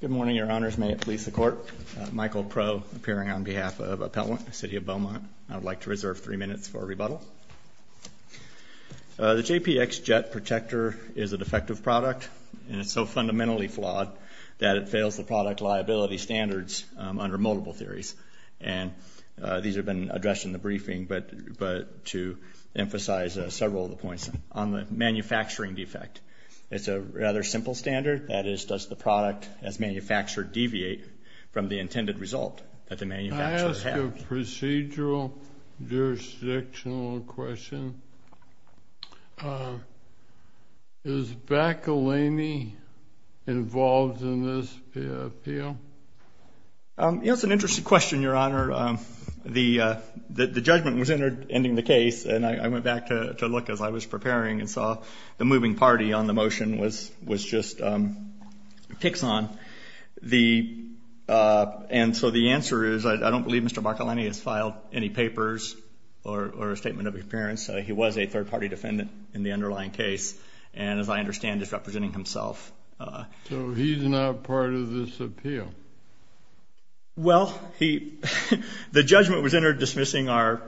Good morning, your honors. May it please the court. Michael Proe, appearing on behalf of Appellant, City of Beaumont. I'd like to reserve three minutes for rebuttal. The JPX Jet Protector is a defective product, and it's so fundamentally flawed that it fails the product liability standards under multiple theories. And these have been addressed in the briefing, but to emphasize several of the points on the manufacturing defect. It's a rather simple standard, that is, does the product as manufactured deviate from the intended result that the manufacturer has? I ask a procedural jurisdictional question. Is Bacalany involved in this appeal? It's an interesting question, your honor. The judgment was ending the case, and I went back to look as I was preparing and saw the moving party on the motion was just Piexon. And so the answer is, I don't believe Mr. Bacalany has filed any papers or a statement of appearance. He was a third-party defendant in the underlying case, and as I understand, is representing himself. So he's not part of this appeal? Well, the judgment was entered dismissing our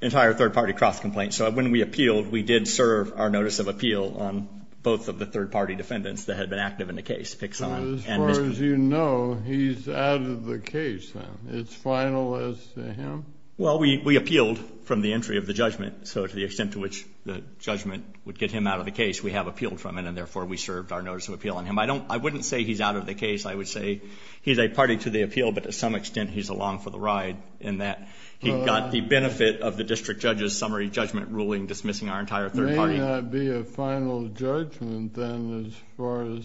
entire third-party cross-complaint, so when we appealed, we did serve our notice of appeal on both of the third-party defendants that had been active in the case, Piexon and Mr. Bacalany. So as far as you know, he's out of the case now. It's final as to him? Well, we appealed from the entry of the judgment, so to the extent to which the judgment would get him out of the case, we have appealed from it, and therefore we served our notice of appeal on him. I wouldn't say he's out of the case. I would say he's a party to the appeal, but to some extent he's along for the ride in that he got the benefit of the district judge's summary judgment ruling dismissing our entire third party. There may not be a final judgment then as far as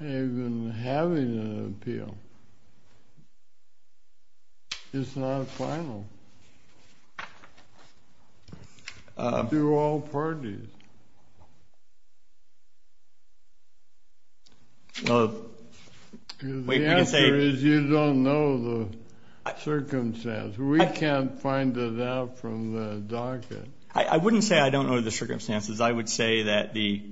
even having an appeal. It's not final to all parties. The answer is you don't know the circumstance. We can't find it out from the docket. I wouldn't say I don't know the circumstances. I would say that the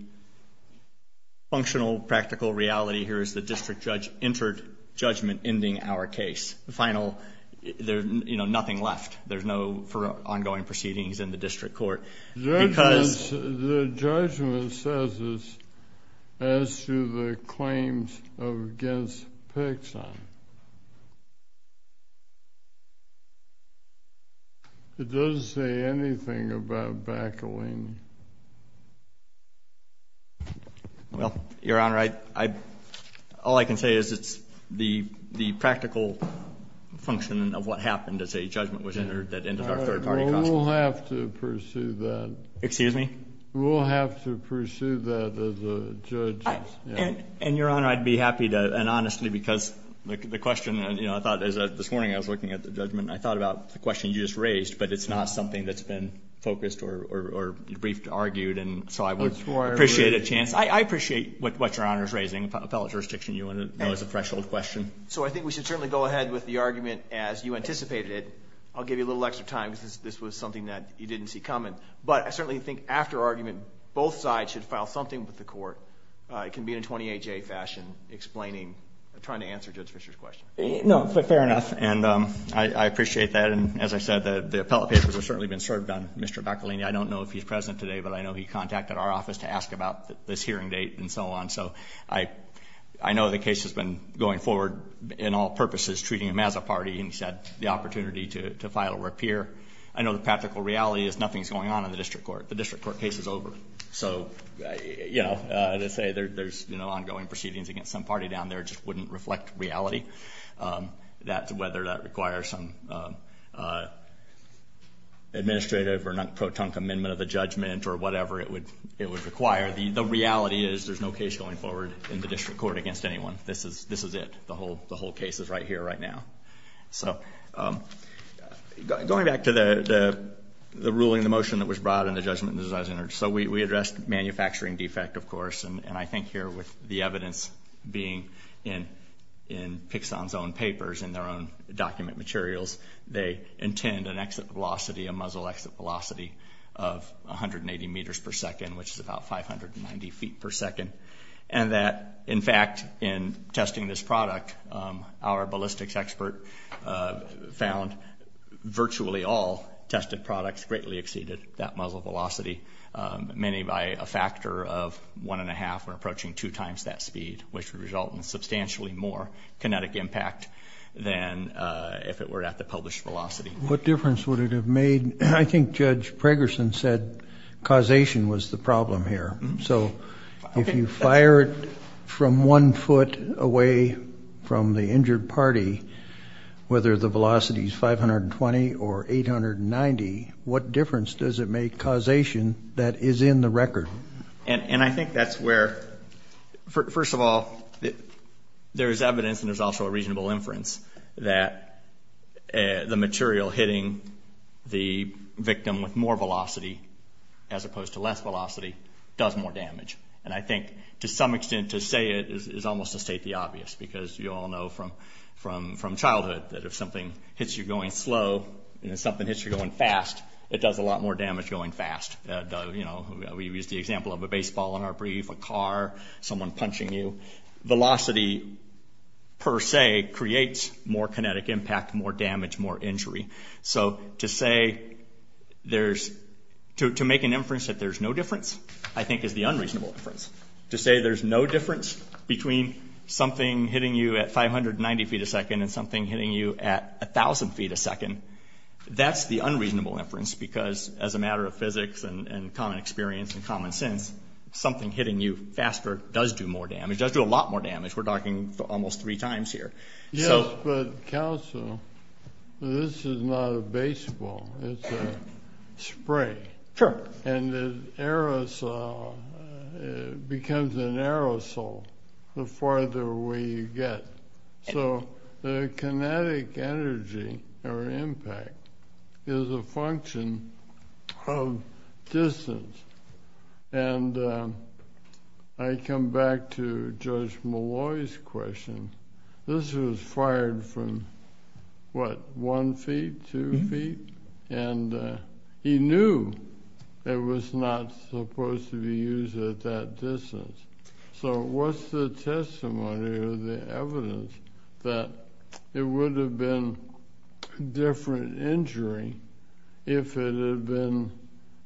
functional, practical reality here is the district judge entered judgment ending our case. The judgment says it's as to the claims against Piexon. It doesn't say anything about Bacalany. Well, Your Honor, all I can say is it's the practical function of what happened as a judgment was entered that ended our third party costs. We'll have to pursue that. Excuse me? We'll have to pursue that as a judge. And, Your Honor, I'd be happy to, and honestly, because the question, you know, I thought this morning I was looking at the judgment and I thought about the question you just raised, but it's not something that's been focused or you'd bring it up again. It's something that's been briefed, argued, and so I would appreciate a chance. I appreciate what Your Honor is raising, appellate jurisdiction. You want to know as a threshold question. So I think we should certainly go ahead with the argument as you anticipated it. I'll give you a little extra time because this was something that you didn't see coming. But I certainly think after argument both sides should file something with the court. It can be in a 28-J fashion explaining, trying to answer Judge Fischer's question. No, but fair enough, and I appreciate that. And as I said, the appellate papers have certainly been served on Mr. Bacalany. I don't know if he's present today, but I know he contacted our office to ask about this hearing date and so on. So I know the case has been going forward in all purposes, treating him as a party, and he's had the opportunity to file a repair. I know the practical reality is nothing's going on in the district court. The district court case is over. So, you know, as I say, there's ongoing proceedings against some party down there. It just wouldn't reflect reality. That's whether that requires some administrative or non-pro-tunk amendment of the judgment or whatever it would require. The reality is there's no case going forward in the district court against anyone. This is it. The whole case is right here right now. So going back to the ruling, the motion that was brought and the judgment. So we addressed manufacturing defect, of course. And I think here with the evidence being in Pixon's own papers and their own document materials, they intend an exit velocity, a muzzle exit velocity of 180 meters per second, which is about 590 feet per second. And that, in fact, in testing this product, our ballistics expert found virtually all tested products greatly exceeded that muzzle velocity, many by a factor of one and a half or approaching two times that speed, which would result in substantially more kinetic impact than if it were at the published velocity. What difference would it have made? I think Judge Pragerson said causation was the problem here. So if you fired from one foot away from the injured party, whether the velocity is 520 or 890, what difference does it make causation that is in the record? And I think that's where, first of all, there is evidence and there's also a reasonable inference that the material hitting the victim with more velocity as opposed to less velocity does more damage. And I think to some extent to say it is almost to state the obvious because you all know from childhood that if something hits you going slow and if something hits you going fast, it does a lot more damage going fast. We've used the example of a baseball in our brief, a car, someone punching you. Velocity per se creates more kinetic impact, more damage, more injury. So to make an inference that there's no difference I think is the unreasonable inference. To say there's no difference between something hitting you at 590 feet a second and something hitting you at 1,000 feet a second, that's the unreasonable inference because as a matter of physics and common experience and common sense, something hitting you faster does do more damage, does do a lot more damage. We're talking almost three times here. Yes, but counsel, this is not a baseball. It's a spray. Sure. And the aerosol becomes an aerosol the farther away you get. So the kinetic energy or impact is a function of distance. And I come back to Judge Malloy's question. This was fired from, what, one feet, two feet? And he knew it was not supposed to be used at that distance. So what's the testimony or the evidence that it would have been a different injury if it had been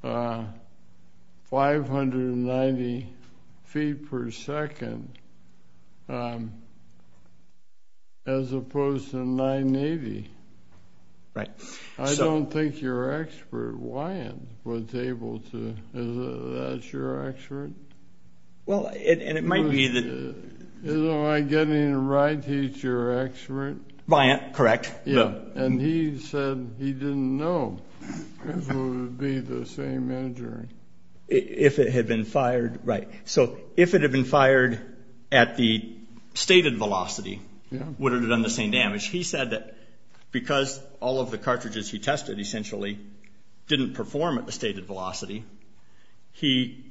590 feet per second as opposed to 980? Right. I don't think your expert, Wyatt, was able to. Is that your expert? Well, and it might be that. Isn't Wyatt getting it right? He's your expert? Wyatt, correct. Yeah. And he said he didn't know if it would be the same injury. If it had been fired, right. So if it had been fired at the stated velocity, would it have done the same damage? He said that because all of the cartridges he tested essentially didn't perform at the stated velocity, he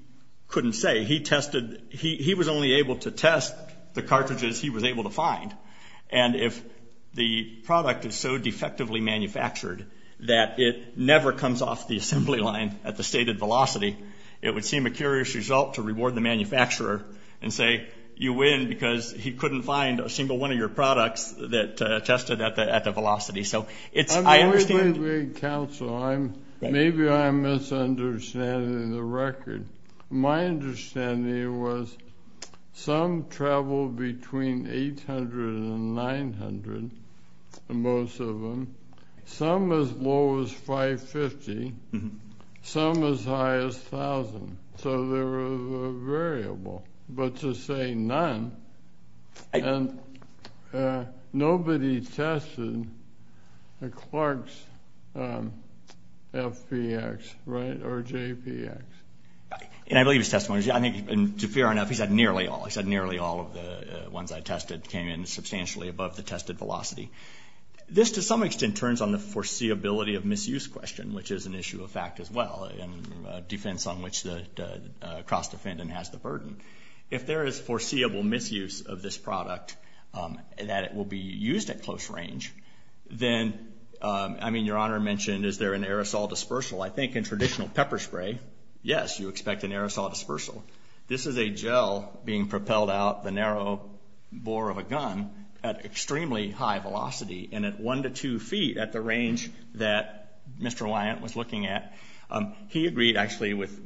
couldn't say. He was only able to test the cartridges he was able to find. And if the product is so defectively manufactured that it never comes off the assembly line at the stated velocity, it would seem a curious result to reward the manufacturer and say, you win because he couldn't find a single one of your products that tested at the velocity. So it's, I understand. Counsel, maybe I'm misunderstanding the record. My understanding was some traveled between 800 and 900, most of them. Some as low as 550. Some as high as 1,000. So there was a variable. But to say none, and nobody tested Clark's FPX, right, or JPX. And I believe his testimony, and to be fair enough, he said nearly all. He said nearly all of the ones I tested came in substantially above the tested velocity. This to some extent turns on the foreseeability of misuse question, which is an issue of fact as well, and defense on which the cross defendant has the burden. If there is foreseeable misuse of this product, that it will be used at close range, then, I mean, your Honor mentioned is there an aerosol dispersal. I think in traditional pepper spray, yes, you expect an aerosol dispersal. This is a gel being propelled out the narrow bore of a gun at extremely high velocity, and at one to two feet at the range that Mr. Wyant was looking at, he agreed actually with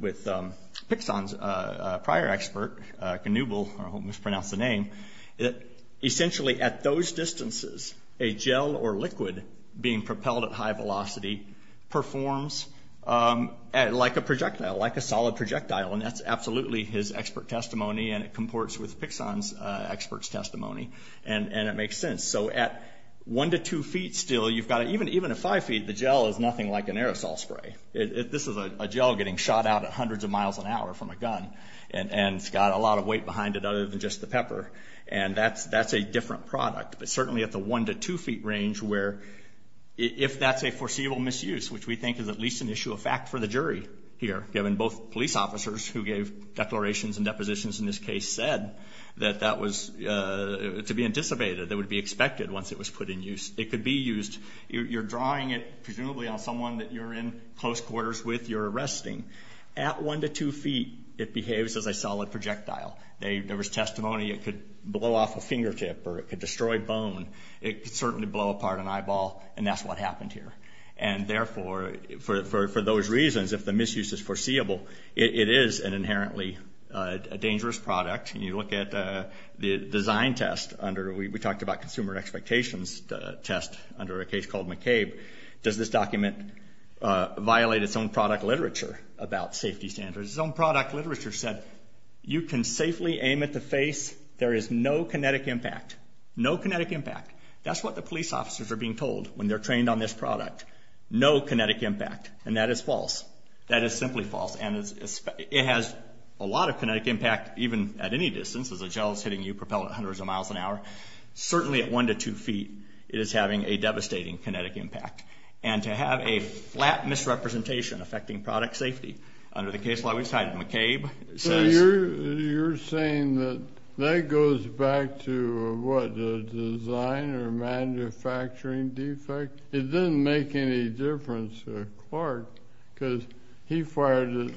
Pixon's prior expert, Canubal, I almost pronounced the name, that essentially at those distances, a gel or liquid being propelled at high velocity performs like a projectile, like a solid projectile. And that's absolutely his expert testimony, and it comports with Pixon's expert's testimony. And it makes sense. So at one to two feet still, even at five feet, the gel is nothing like an aerosol spray. This is a gel getting shot out at hundreds of miles an hour from a gun, and it's got a lot of weight behind it other than just the pepper. And that's a different product. But certainly at the one to two feet range where if that's a foreseeable misuse, which we think is at least an issue of fact for the jury here, given both police officers who gave declarations and depositions in this case said that that was to be anticipated, that it would be expected once it was put in use. It could be used. You're drawing it presumably on someone that you're in close quarters with, you're arresting. At one to two feet, it behaves as a solid projectile. There was testimony it could blow off a fingertip or it could destroy bone. It could certainly blow apart an eyeball, and that's what happened here. And therefore, for those reasons, if the misuse is foreseeable, it is an inherently dangerous product. And you look at the design test. We talked about consumer expectations test under a case called McCabe. Does this document violate its own product literature about safety standards? Its own product literature said you can safely aim at the face. There is no kinetic impact, no kinetic impact. That's what the police officers are being told when they're trained on this product, no kinetic impact. And that is false. That is simply false. And it has a lot of kinetic impact, even at any distance, as a gel is hitting you propelled at hundreds of miles an hour. Certainly at one to two feet, it is having a devastating kinetic impact. And to have a flat misrepresentation affecting product safety under the case law we've cited, McCabe says. You're saying that that goes back to what, the design or manufacturing defect? It didn't make any difference to Clark because he fired it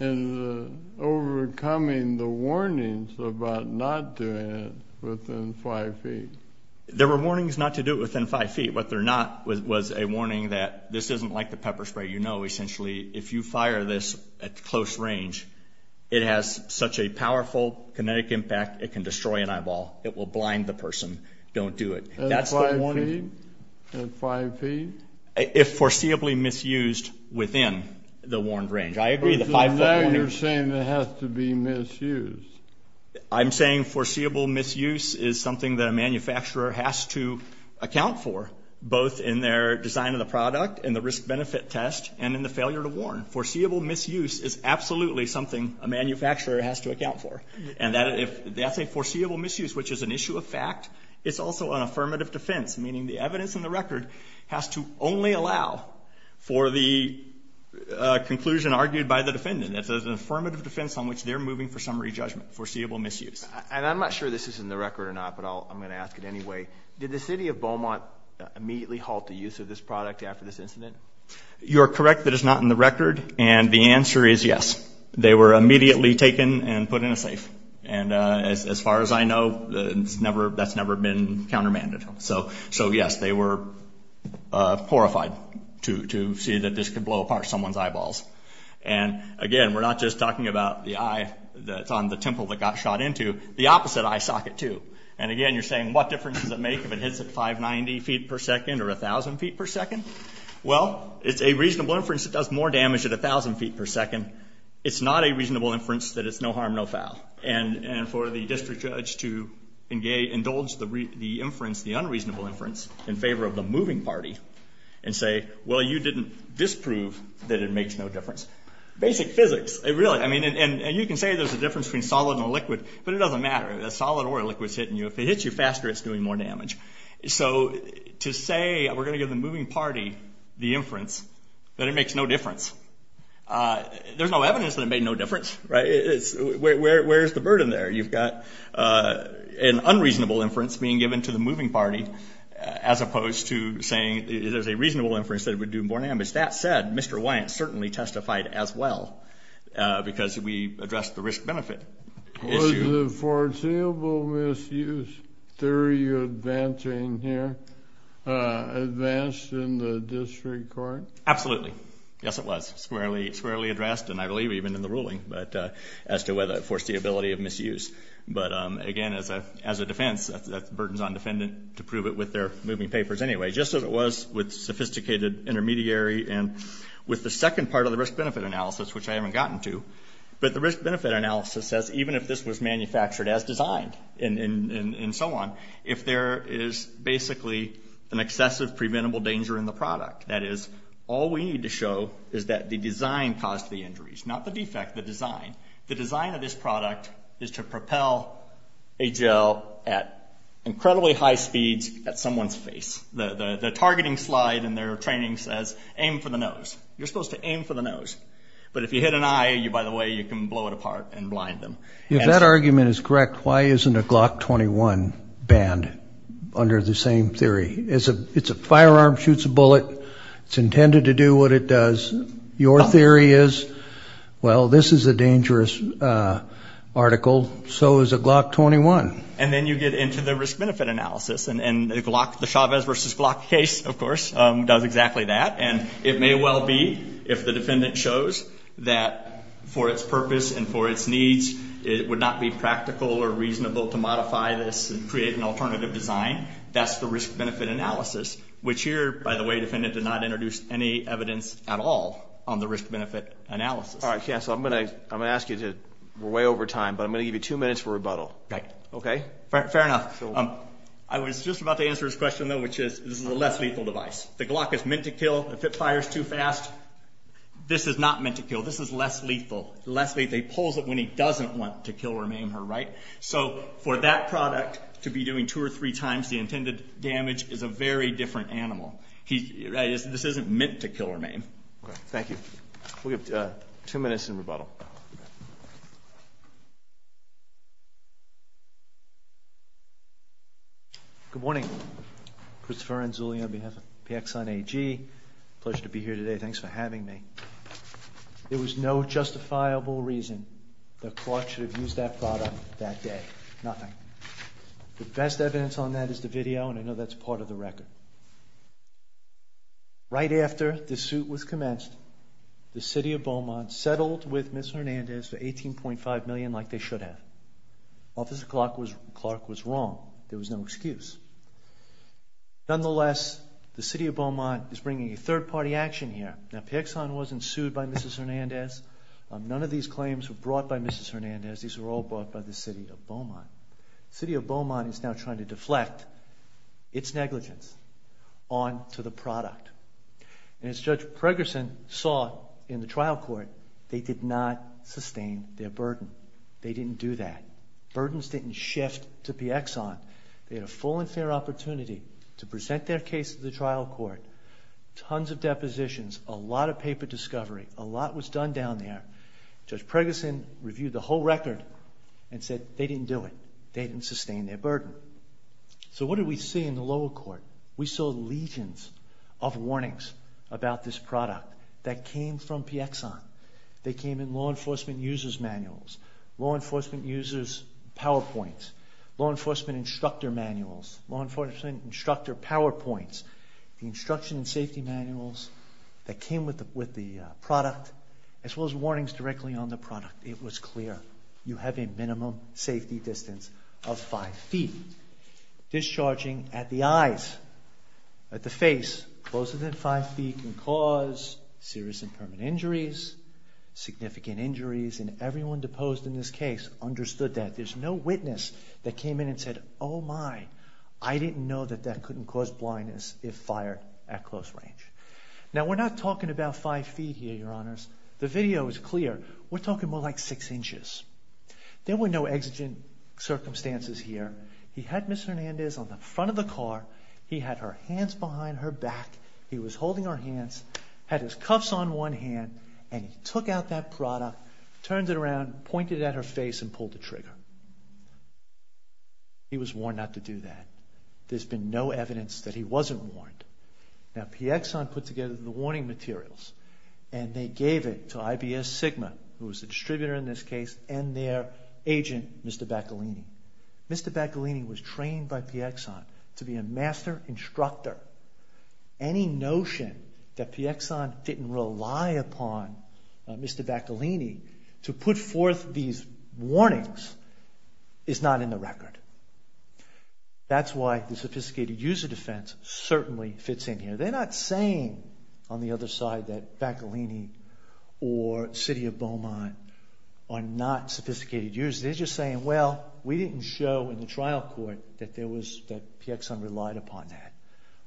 in overcoming the warnings about not doing it within five feet. There were warnings not to do it within five feet. What they're not was a warning that this isn't like the pepper spray you know. Essentially, if you fire this at close range, it has such a powerful kinetic impact it can destroy an eyeball. It will blind the person. Don't do it. At five feet? If foreseeably misused within the warned range. I agree. So now you're saying it has to be misused. I'm saying foreseeable misuse is something that a manufacturer has to account for, both in their design of the product and the risk benefit test and in the failure to warn. Foreseeable misuse is absolutely something a manufacturer has to account for. And that's a foreseeable misuse, which is an issue of fact. It's also an affirmative defense, meaning the evidence in the record has to only allow for the conclusion argued by the defendant. It's an affirmative defense on which they're moving for summary judgment, foreseeable misuse. And I'm not sure this is in the record or not, but I'm going to ask it anyway. Did the city of Beaumont immediately halt the use of this product after this incident? You're correct that it's not in the record, and the answer is yes. They were immediately taken and put in a safe. And as far as I know, that's never been countermanded. So, yes, they were horrified to see that this could blow apart someone's eyeballs. And, again, we're not just talking about the eye that's on the temple that got shot into. The opposite eye socket, too. And, again, you're saying what difference does it make if it hits at 590 feet per second or 1,000 feet per second? Well, it's a reasonable inference. It does more damage at 1,000 feet per second. It's not a reasonable inference that it's no harm, no foul. And for the district judge to indulge the inference, the unreasonable inference, in favor of the moving party and say, well, you didn't disprove that it makes no difference. Basic physics, really. I mean, and you can say there's a difference between solid and a liquid, but it doesn't matter. A solid or a liquid is hitting you. If it hits you faster, it's doing more damage. So to say we're going to give the moving party the inference that it makes no difference, there's no evidence that it made no difference. Where's the burden there? You've got an unreasonable inference being given to the moving party as opposed to saying there's a reasonable inference that it would do more damage. That said, Mr. Wyant certainly testified as well because we addressed the risk-benefit issue. Was the foreseeable misuse theory advancing here, advanced in the district court? Absolutely. Yes, it was. It was squarely addressed, and I believe even in the ruling, as to whether it forced the ability of misuse. But, again, as a defense, that burdens on defendant to prove it with their moving papers anyway. Just as it was with sophisticated intermediary and with the second part of the risk-benefit analysis, which I haven't gotten to. But the risk-benefit analysis says even if this was manufactured as designed and so on, if there is basically an excessive preventable danger in the product, that is, all we need to show is that the design caused the injuries, not the defect, the design. The design of this product is to propel a gel at incredibly high speeds at someone's face. The targeting slide in their training says aim for the nose. You're supposed to aim for the nose. But if you hit an eye, by the way, you can blow it apart and blind them. If that argument is correct, why isn't a Glock 21 banned under the same theory? It's a firearm, shoots a bullet. It's intended to do what it does. Your theory is, well, this is a dangerous article. So is a Glock 21. And then you get into the risk-benefit analysis. And the Glock, the Chavez versus Glock case, of course, does exactly that. And it may well be, if the defendant shows, that for its purpose and for its needs, it would not be practical or reasonable to modify this and create an alternative design. That's the risk-benefit analysis, which here, by the way, the defendant did not introduce any evidence at all on the risk-benefit analysis. All right, counsel, I'm going to ask you to—we're way over time, but I'm going to give you two minutes for rebuttal. Okay. Fair enough. I was just about to answer his question, though, which is this is a less lethal device. The Glock is meant to kill. If it fires too fast, this is not meant to kill. This is less lethal. Less lethal. He pulls it when he doesn't want to kill or maim her, right? So for that product to be doing two or three times the intended damage is a very different animal. This isn't meant to kill or maim. Thank you. We have two minutes in rebuttal. Good morning. Christopher Anzulli on behalf of PXI AG. Pleasure to be here today. Thanks for having me. There was no justifiable reason the court should have used that product that day. Nothing. The best evidence on that is the video, and I know that's part of the record. Right after the suit was commenced, the city of Beaumont settled with Ms. Hernandez for $18.5 million like they should have. Officer Clark was wrong. There was no excuse. Nonetheless, the city of Beaumont is bringing a third-party action here. Now, PXI wasn't sued by Mrs. Hernandez. None of these claims were brought by Mrs. Hernandez. These were all brought by the city of Beaumont. The city of Beaumont is now trying to deflect its negligence onto the product. And as Judge Pregerson saw in the trial court, they did not sustain their burden. They didn't do that. Burdens didn't shift to PXI. They had a full and fair opportunity to present their case to the trial court. Tons of depositions, a lot of paper discovery, a lot was done down there. Judge Pregerson reviewed the whole record and said they didn't do it. They didn't sustain their burden. So what did we see in the lower court? We saw legions of warnings about this product that came from PXI. They came in law enforcement users' manuals, law enforcement users' PowerPoints, law enforcement instructor manuals, law enforcement instructor PowerPoints, the instruction and safety manuals that came with the product, as well as warnings directly on the product. It was clear. You have a minimum safety distance of five feet. Discharging at the eyes, at the face, closer than five feet can cause serious and permanent injuries, significant injuries, and everyone deposed in this case understood that. There's no witness that came in and said, oh, my, I didn't know that that couldn't cause blindness if fired at close range. Now, we're not talking about five feet here, Your Honors. The video is clear. We're talking more like six inches. There were no exigent circumstances here. He had Ms. Hernandez on the front of the car. He had her hands behind her back. He was holding her hands, had his cuffs on one hand, and he took out that product, turned it around, pointed at her face, and pulled the trigger. He was warned not to do that. There's been no evidence that he wasn't warned. Now, PXI put together the warning materials, and they gave it to IBS Sigma, who was the distributor in this case, and their agent, Mr. Bacalini. Mr. Bacalini was trained by PXI to be a master instructor. Any notion that PXI didn't rely upon Mr. Bacalini to put forth these warnings is not in the record. That's why the sophisticated user defense certainly fits in here. They're not saying, on the other side, that Bacalini or City of Beaumont are not sophisticated users. They're just saying, well, we didn't show in the trial court that PXI relied upon that.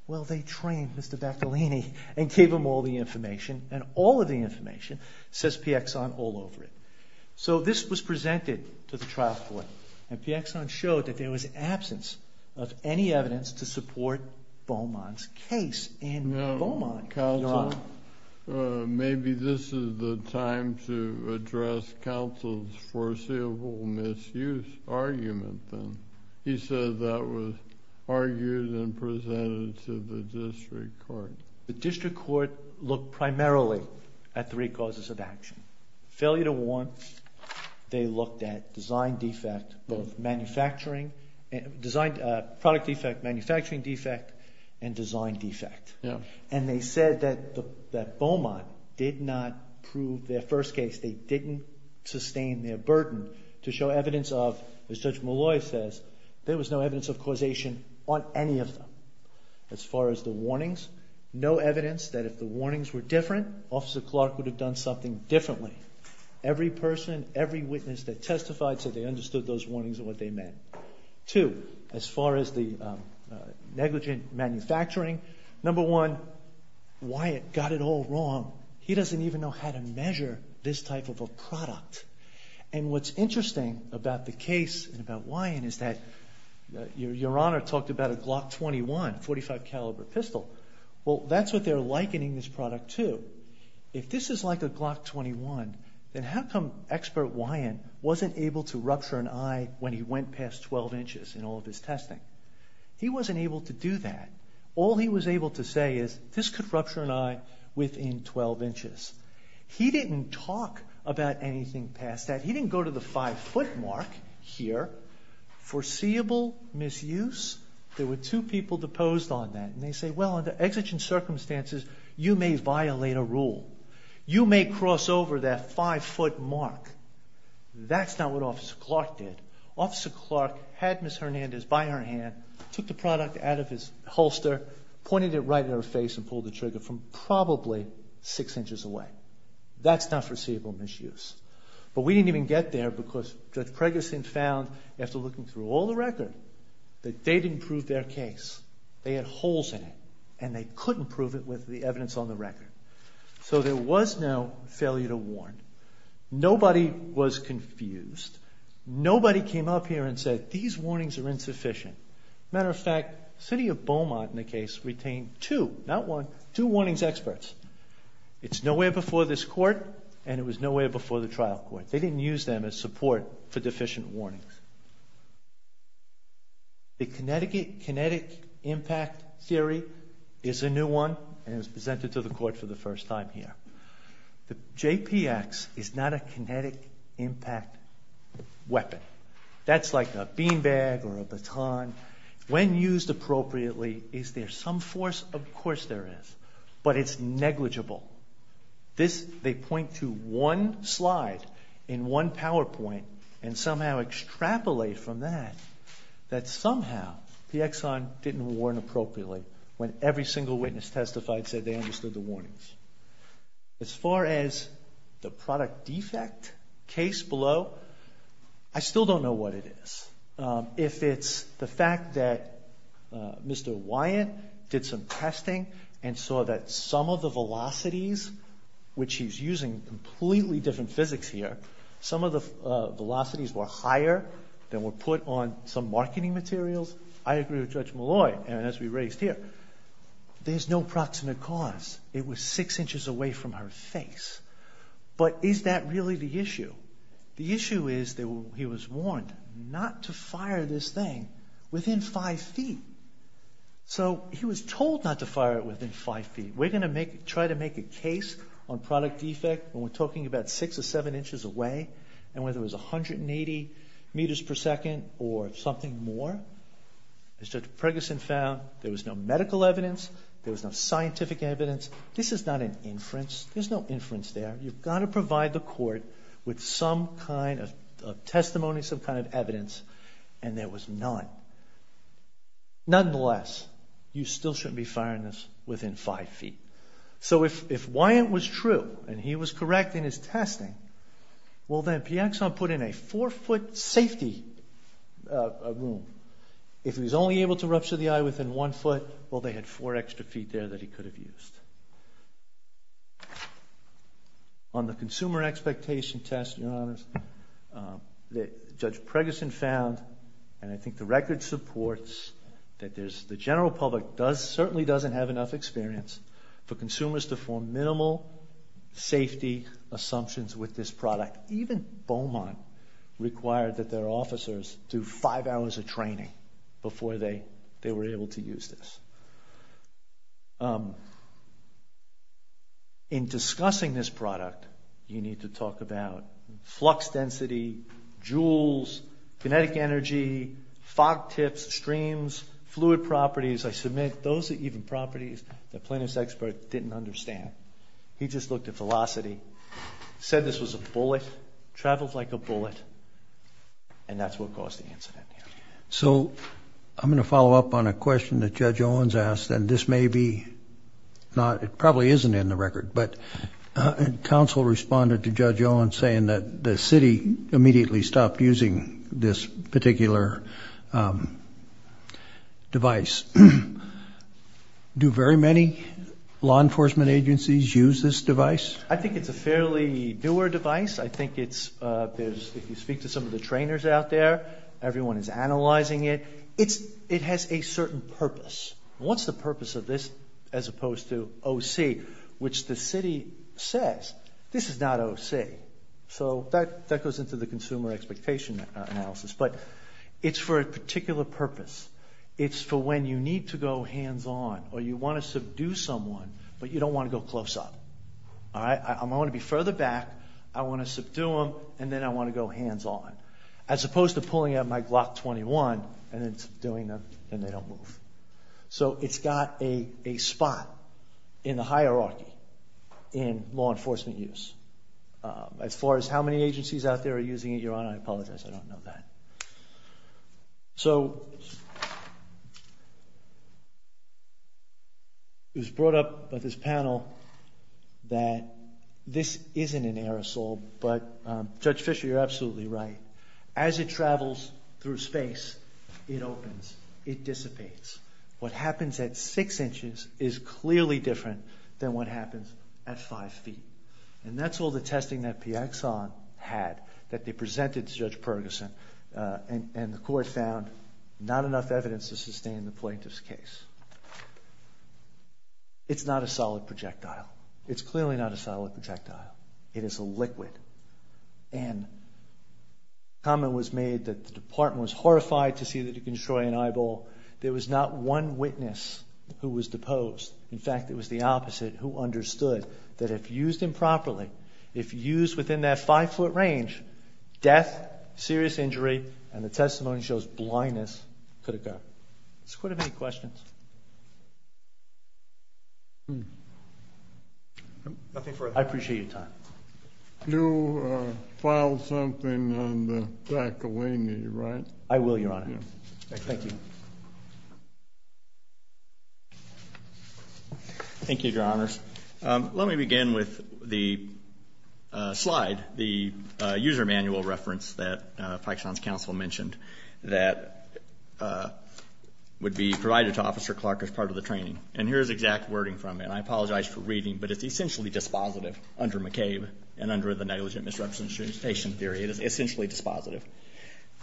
Well, they trained Mr. Bacalini and gave him all the information, and all of the information says PXI all over it. So this was presented to the trial court, and PXI showed that there was absence of any evidence to support Beaumont's case. Now, counsel, maybe this is the time to address counsel's foreseeable misuse argument then. He said that was argued and presented to the district court. The district court looked primarily at three causes of action. Failure to warrant, they looked at design defect, both product defect, manufacturing defect, and design defect. And they said that Beaumont did not prove their first case. They didn't sustain their burden to show evidence of, as Judge Molloy says, there was no evidence of causation on any of them. As far as the warnings, no evidence that if the warnings were different, Officer Clark would have done something differently. Every person, every witness that testified said they understood those warnings and what they meant. Two, as far as the negligent manufacturing, number one, Wyatt got it all wrong. He doesn't even know how to measure this type of a product. And what's interesting about the case and about Wyatt is that Your Honor talked about a Glock 21, 45 caliber pistol. Well, that's what they're likening this product to. If this is like a Glock 21, then how come expert Wyatt wasn't able to rupture an eye when he went past 12 inches in all of his testing? He wasn't able to do that. All he was able to say is, this could rupture an eye within 12 inches. He didn't talk about anything past that. He didn't go to the five-foot mark here. Foreseeable misuse, there were two people deposed on that. And they say, well, under exigent circumstances, you may violate a rule. You may cross over that five-foot mark. That's not what Officer Clark did. Officer Clark had Ms. Hernandez by her hand, took the product out of his holster, pointed it right at her face and pulled the trigger from probably six inches away. That's not foreseeable misuse. But we didn't even get there because Judge Cregason found, after looking through all the record, that they didn't prove their case. They had holes in it. And they couldn't prove it with the evidence on the record. So there was no failure to warn. Nobody was confused. Nobody came up here and said, these warnings are insufficient. Matter of fact, the city of Beaumont in the case retained two, not one, two warnings experts. It's nowhere before this court, and it was nowhere before the trial court. They didn't use them as support for deficient warnings. The kinetic impact theory is a new one, and it was presented to the court for the first time here. The JPX is not a kinetic impact weapon. That's like a bean bag or a baton. When used appropriately, is there some force? Of course there is. But it's negligible. They point to one slide in one PowerPoint and somehow extrapolate from that, that somehow the Exxon didn't warn appropriately when every single witness testified said they understood the warnings. As far as the product defect case below, I still don't know what it is. If it's the fact that Mr. Wyatt did some testing and saw that some of the velocities, which he's using completely different physics here, some of the velocities were higher than were put on some marketing materials, I agree with Judge Malloy, and as we raised here, there's no proximate cause. It was six inches away from her face. But is that really the issue? The issue is that he was warned not to fire this thing within five feet. So he was told not to fire it within five feet. We're going to try to make a case on product defect when we're talking about six or seven inches away, and whether it was 180 meters per second or something more. As Judge Preggison found, there was no medical evidence. There was no scientific evidence. This is not an inference. There's no inference there. You've got to provide the court with some kind of testimony, some kind of evidence, and there was none. Nonetheless, you still shouldn't be firing this within five feet. So if Wyant was true and he was correct in his testing, well, then Piaxon put in a four-foot safety room. If he was only able to rupture the eye within one foot, well, they had four extra feet there that he could have used. On the consumer expectation test, Your Honor, Judge Preggison found, and I think the record supports, that the general public certainly doesn't have enough experience for consumers to form minimal safety assumptions with this product. Even Beaumont required that their officers do five hours of training before they were able to use this. In discussing this product, you need to talk about flux density, joules, kinetic energy, fog tips, streams, fluid properties. I submit those are even properties that Plaintiff's expert didn't understand. He just looked at velocity, said this was a bullet, traveled like a bullet, and that's what caused the incident. So I'm going to follow up on a question that Judge Owens asked, and this may be not, it probably isn't in the record, but counsel responded to Judge Owens saying that the city immediately stopped using this particular device. Do very many law enforcement agencies use this device? I think it's a fairly newer device. I think it's, if you speak to some of the trainers out there, everyone is analyzing it. It has a certain purpose. What's the purpose of this as opposed to OC, which the city says, this is not OC. So that goes into the consumer expectation analysis, but it's for a particular purpose. It's for when you need to go hands-on or you want to subdue someone, but you don't want to go close up. I want to be further back, I want to subdue them, and then I want to go hands-on. As opposed to pulling out my Glock 21 and then subduing them and then they don't move. So it's got a spot in the hierarchy in law enforcement use. As far as how many agencies out there are using it, Your Honor, I apologize, I don't know that. So it was brought up by this panel that this isn't an aerosol, but Judge Fischer, you're absolutely right. As it travels through space, it opens, it dissipates. What happens at six inches is clearly different than what happens at five feet. And that's all the testing that PX on had, that they presented to Judge Perguson, and the court found not enough evidence to sustain the plaintiff's case. It's not a solid projectile. It's clearly not a solid projectile. It is a liquid. And a comment was made that the department was horrified to see that he could destroy an eyeball. There was not one witness who was deposed. In fact, it was the opposite who understood that if used improperly, if used within that five-foot range, death, serious injury, and the testimony shows blindness, could occur. Does the Court have any questions? Nothing further. I appreciate your time. You'll file something on the faculty, right? I will, Your Honor. Thank you. Thank you, Your Honors. Let me begin with the slide, the user manual reference that Paxson's counsel mentioned that would be provided to officers as part of the training. And here is exact wording from it. I apologize for reading, but it's essentially dispositive under McCabe and under the negligent misrepresentation theory. It is essentially dispositive.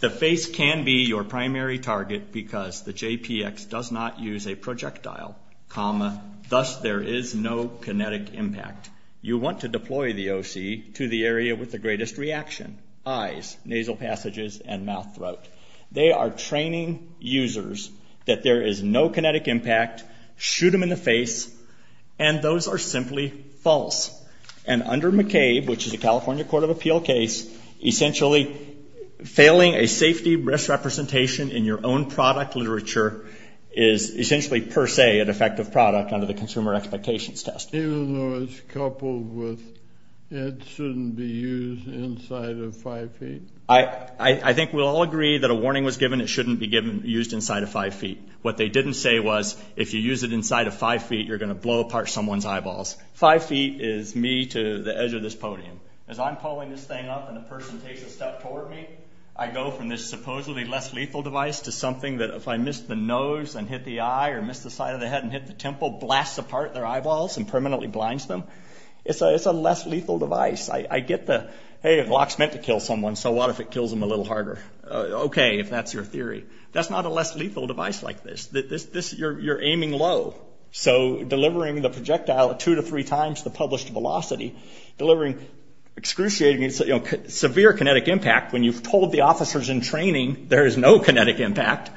The face can be your primary target because the JPX does not use a projectile, thus there is no kinetic impact. You want to deploy the OC to the area with the greatest reaction, eyes, nasal passages, and mouth throat. They are training users that there is no kinetic impact, shoot them in the face, and those are simply false. And under McCabe, which is a California Court of Appeal case, essentially failing a safety risk representation in your own product literature is essentially per se an effective product under the consumer expectations test. Even though it's coupled with it shouldn't be used inside of five feet? I think we'll all agree that a warning was given it shouldn't be used inside of five feet. What they didn't say was if you use it inside of five feet, you're going to blow apart someone's eyeballs. Five feet is me to the edge of this podium. As I'm pulling this thing up and a person takes a step toward me, I go from this supposedly less lethal device to something that if I miss the nose and hit the eye or miss the side of the head and hit the temple, blasts apart their eyeballs and permanently blinds them. It's a less lethal device. I get the hey, a Glock's meant to kill someone, so what if it kills them a little harder? Okay, if that's your theory. That's not a less lethal device like this. You're aiming low. So delivering the projectile two to three times the published velocity, excruciating severe kinetic impact when you've told the officers in training there is no kinetic impact,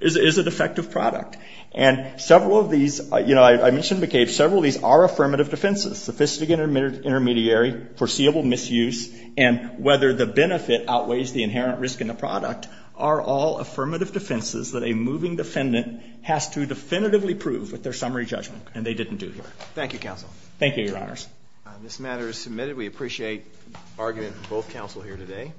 is a defective product. And several of these, I mentioned McCabe, several of these are affirmative defenses, sophisticated intermediary, foreseeable misuse, and whether the benefit outweighs the inherent risk in the product are all affirmative defenses that a moving defendant has to definitively prove with their summary judgment, and they didn't do here. Thank you, counsel. Thank you, Your Honors. This matter is submitted. We appreciate argument from both counsel here today.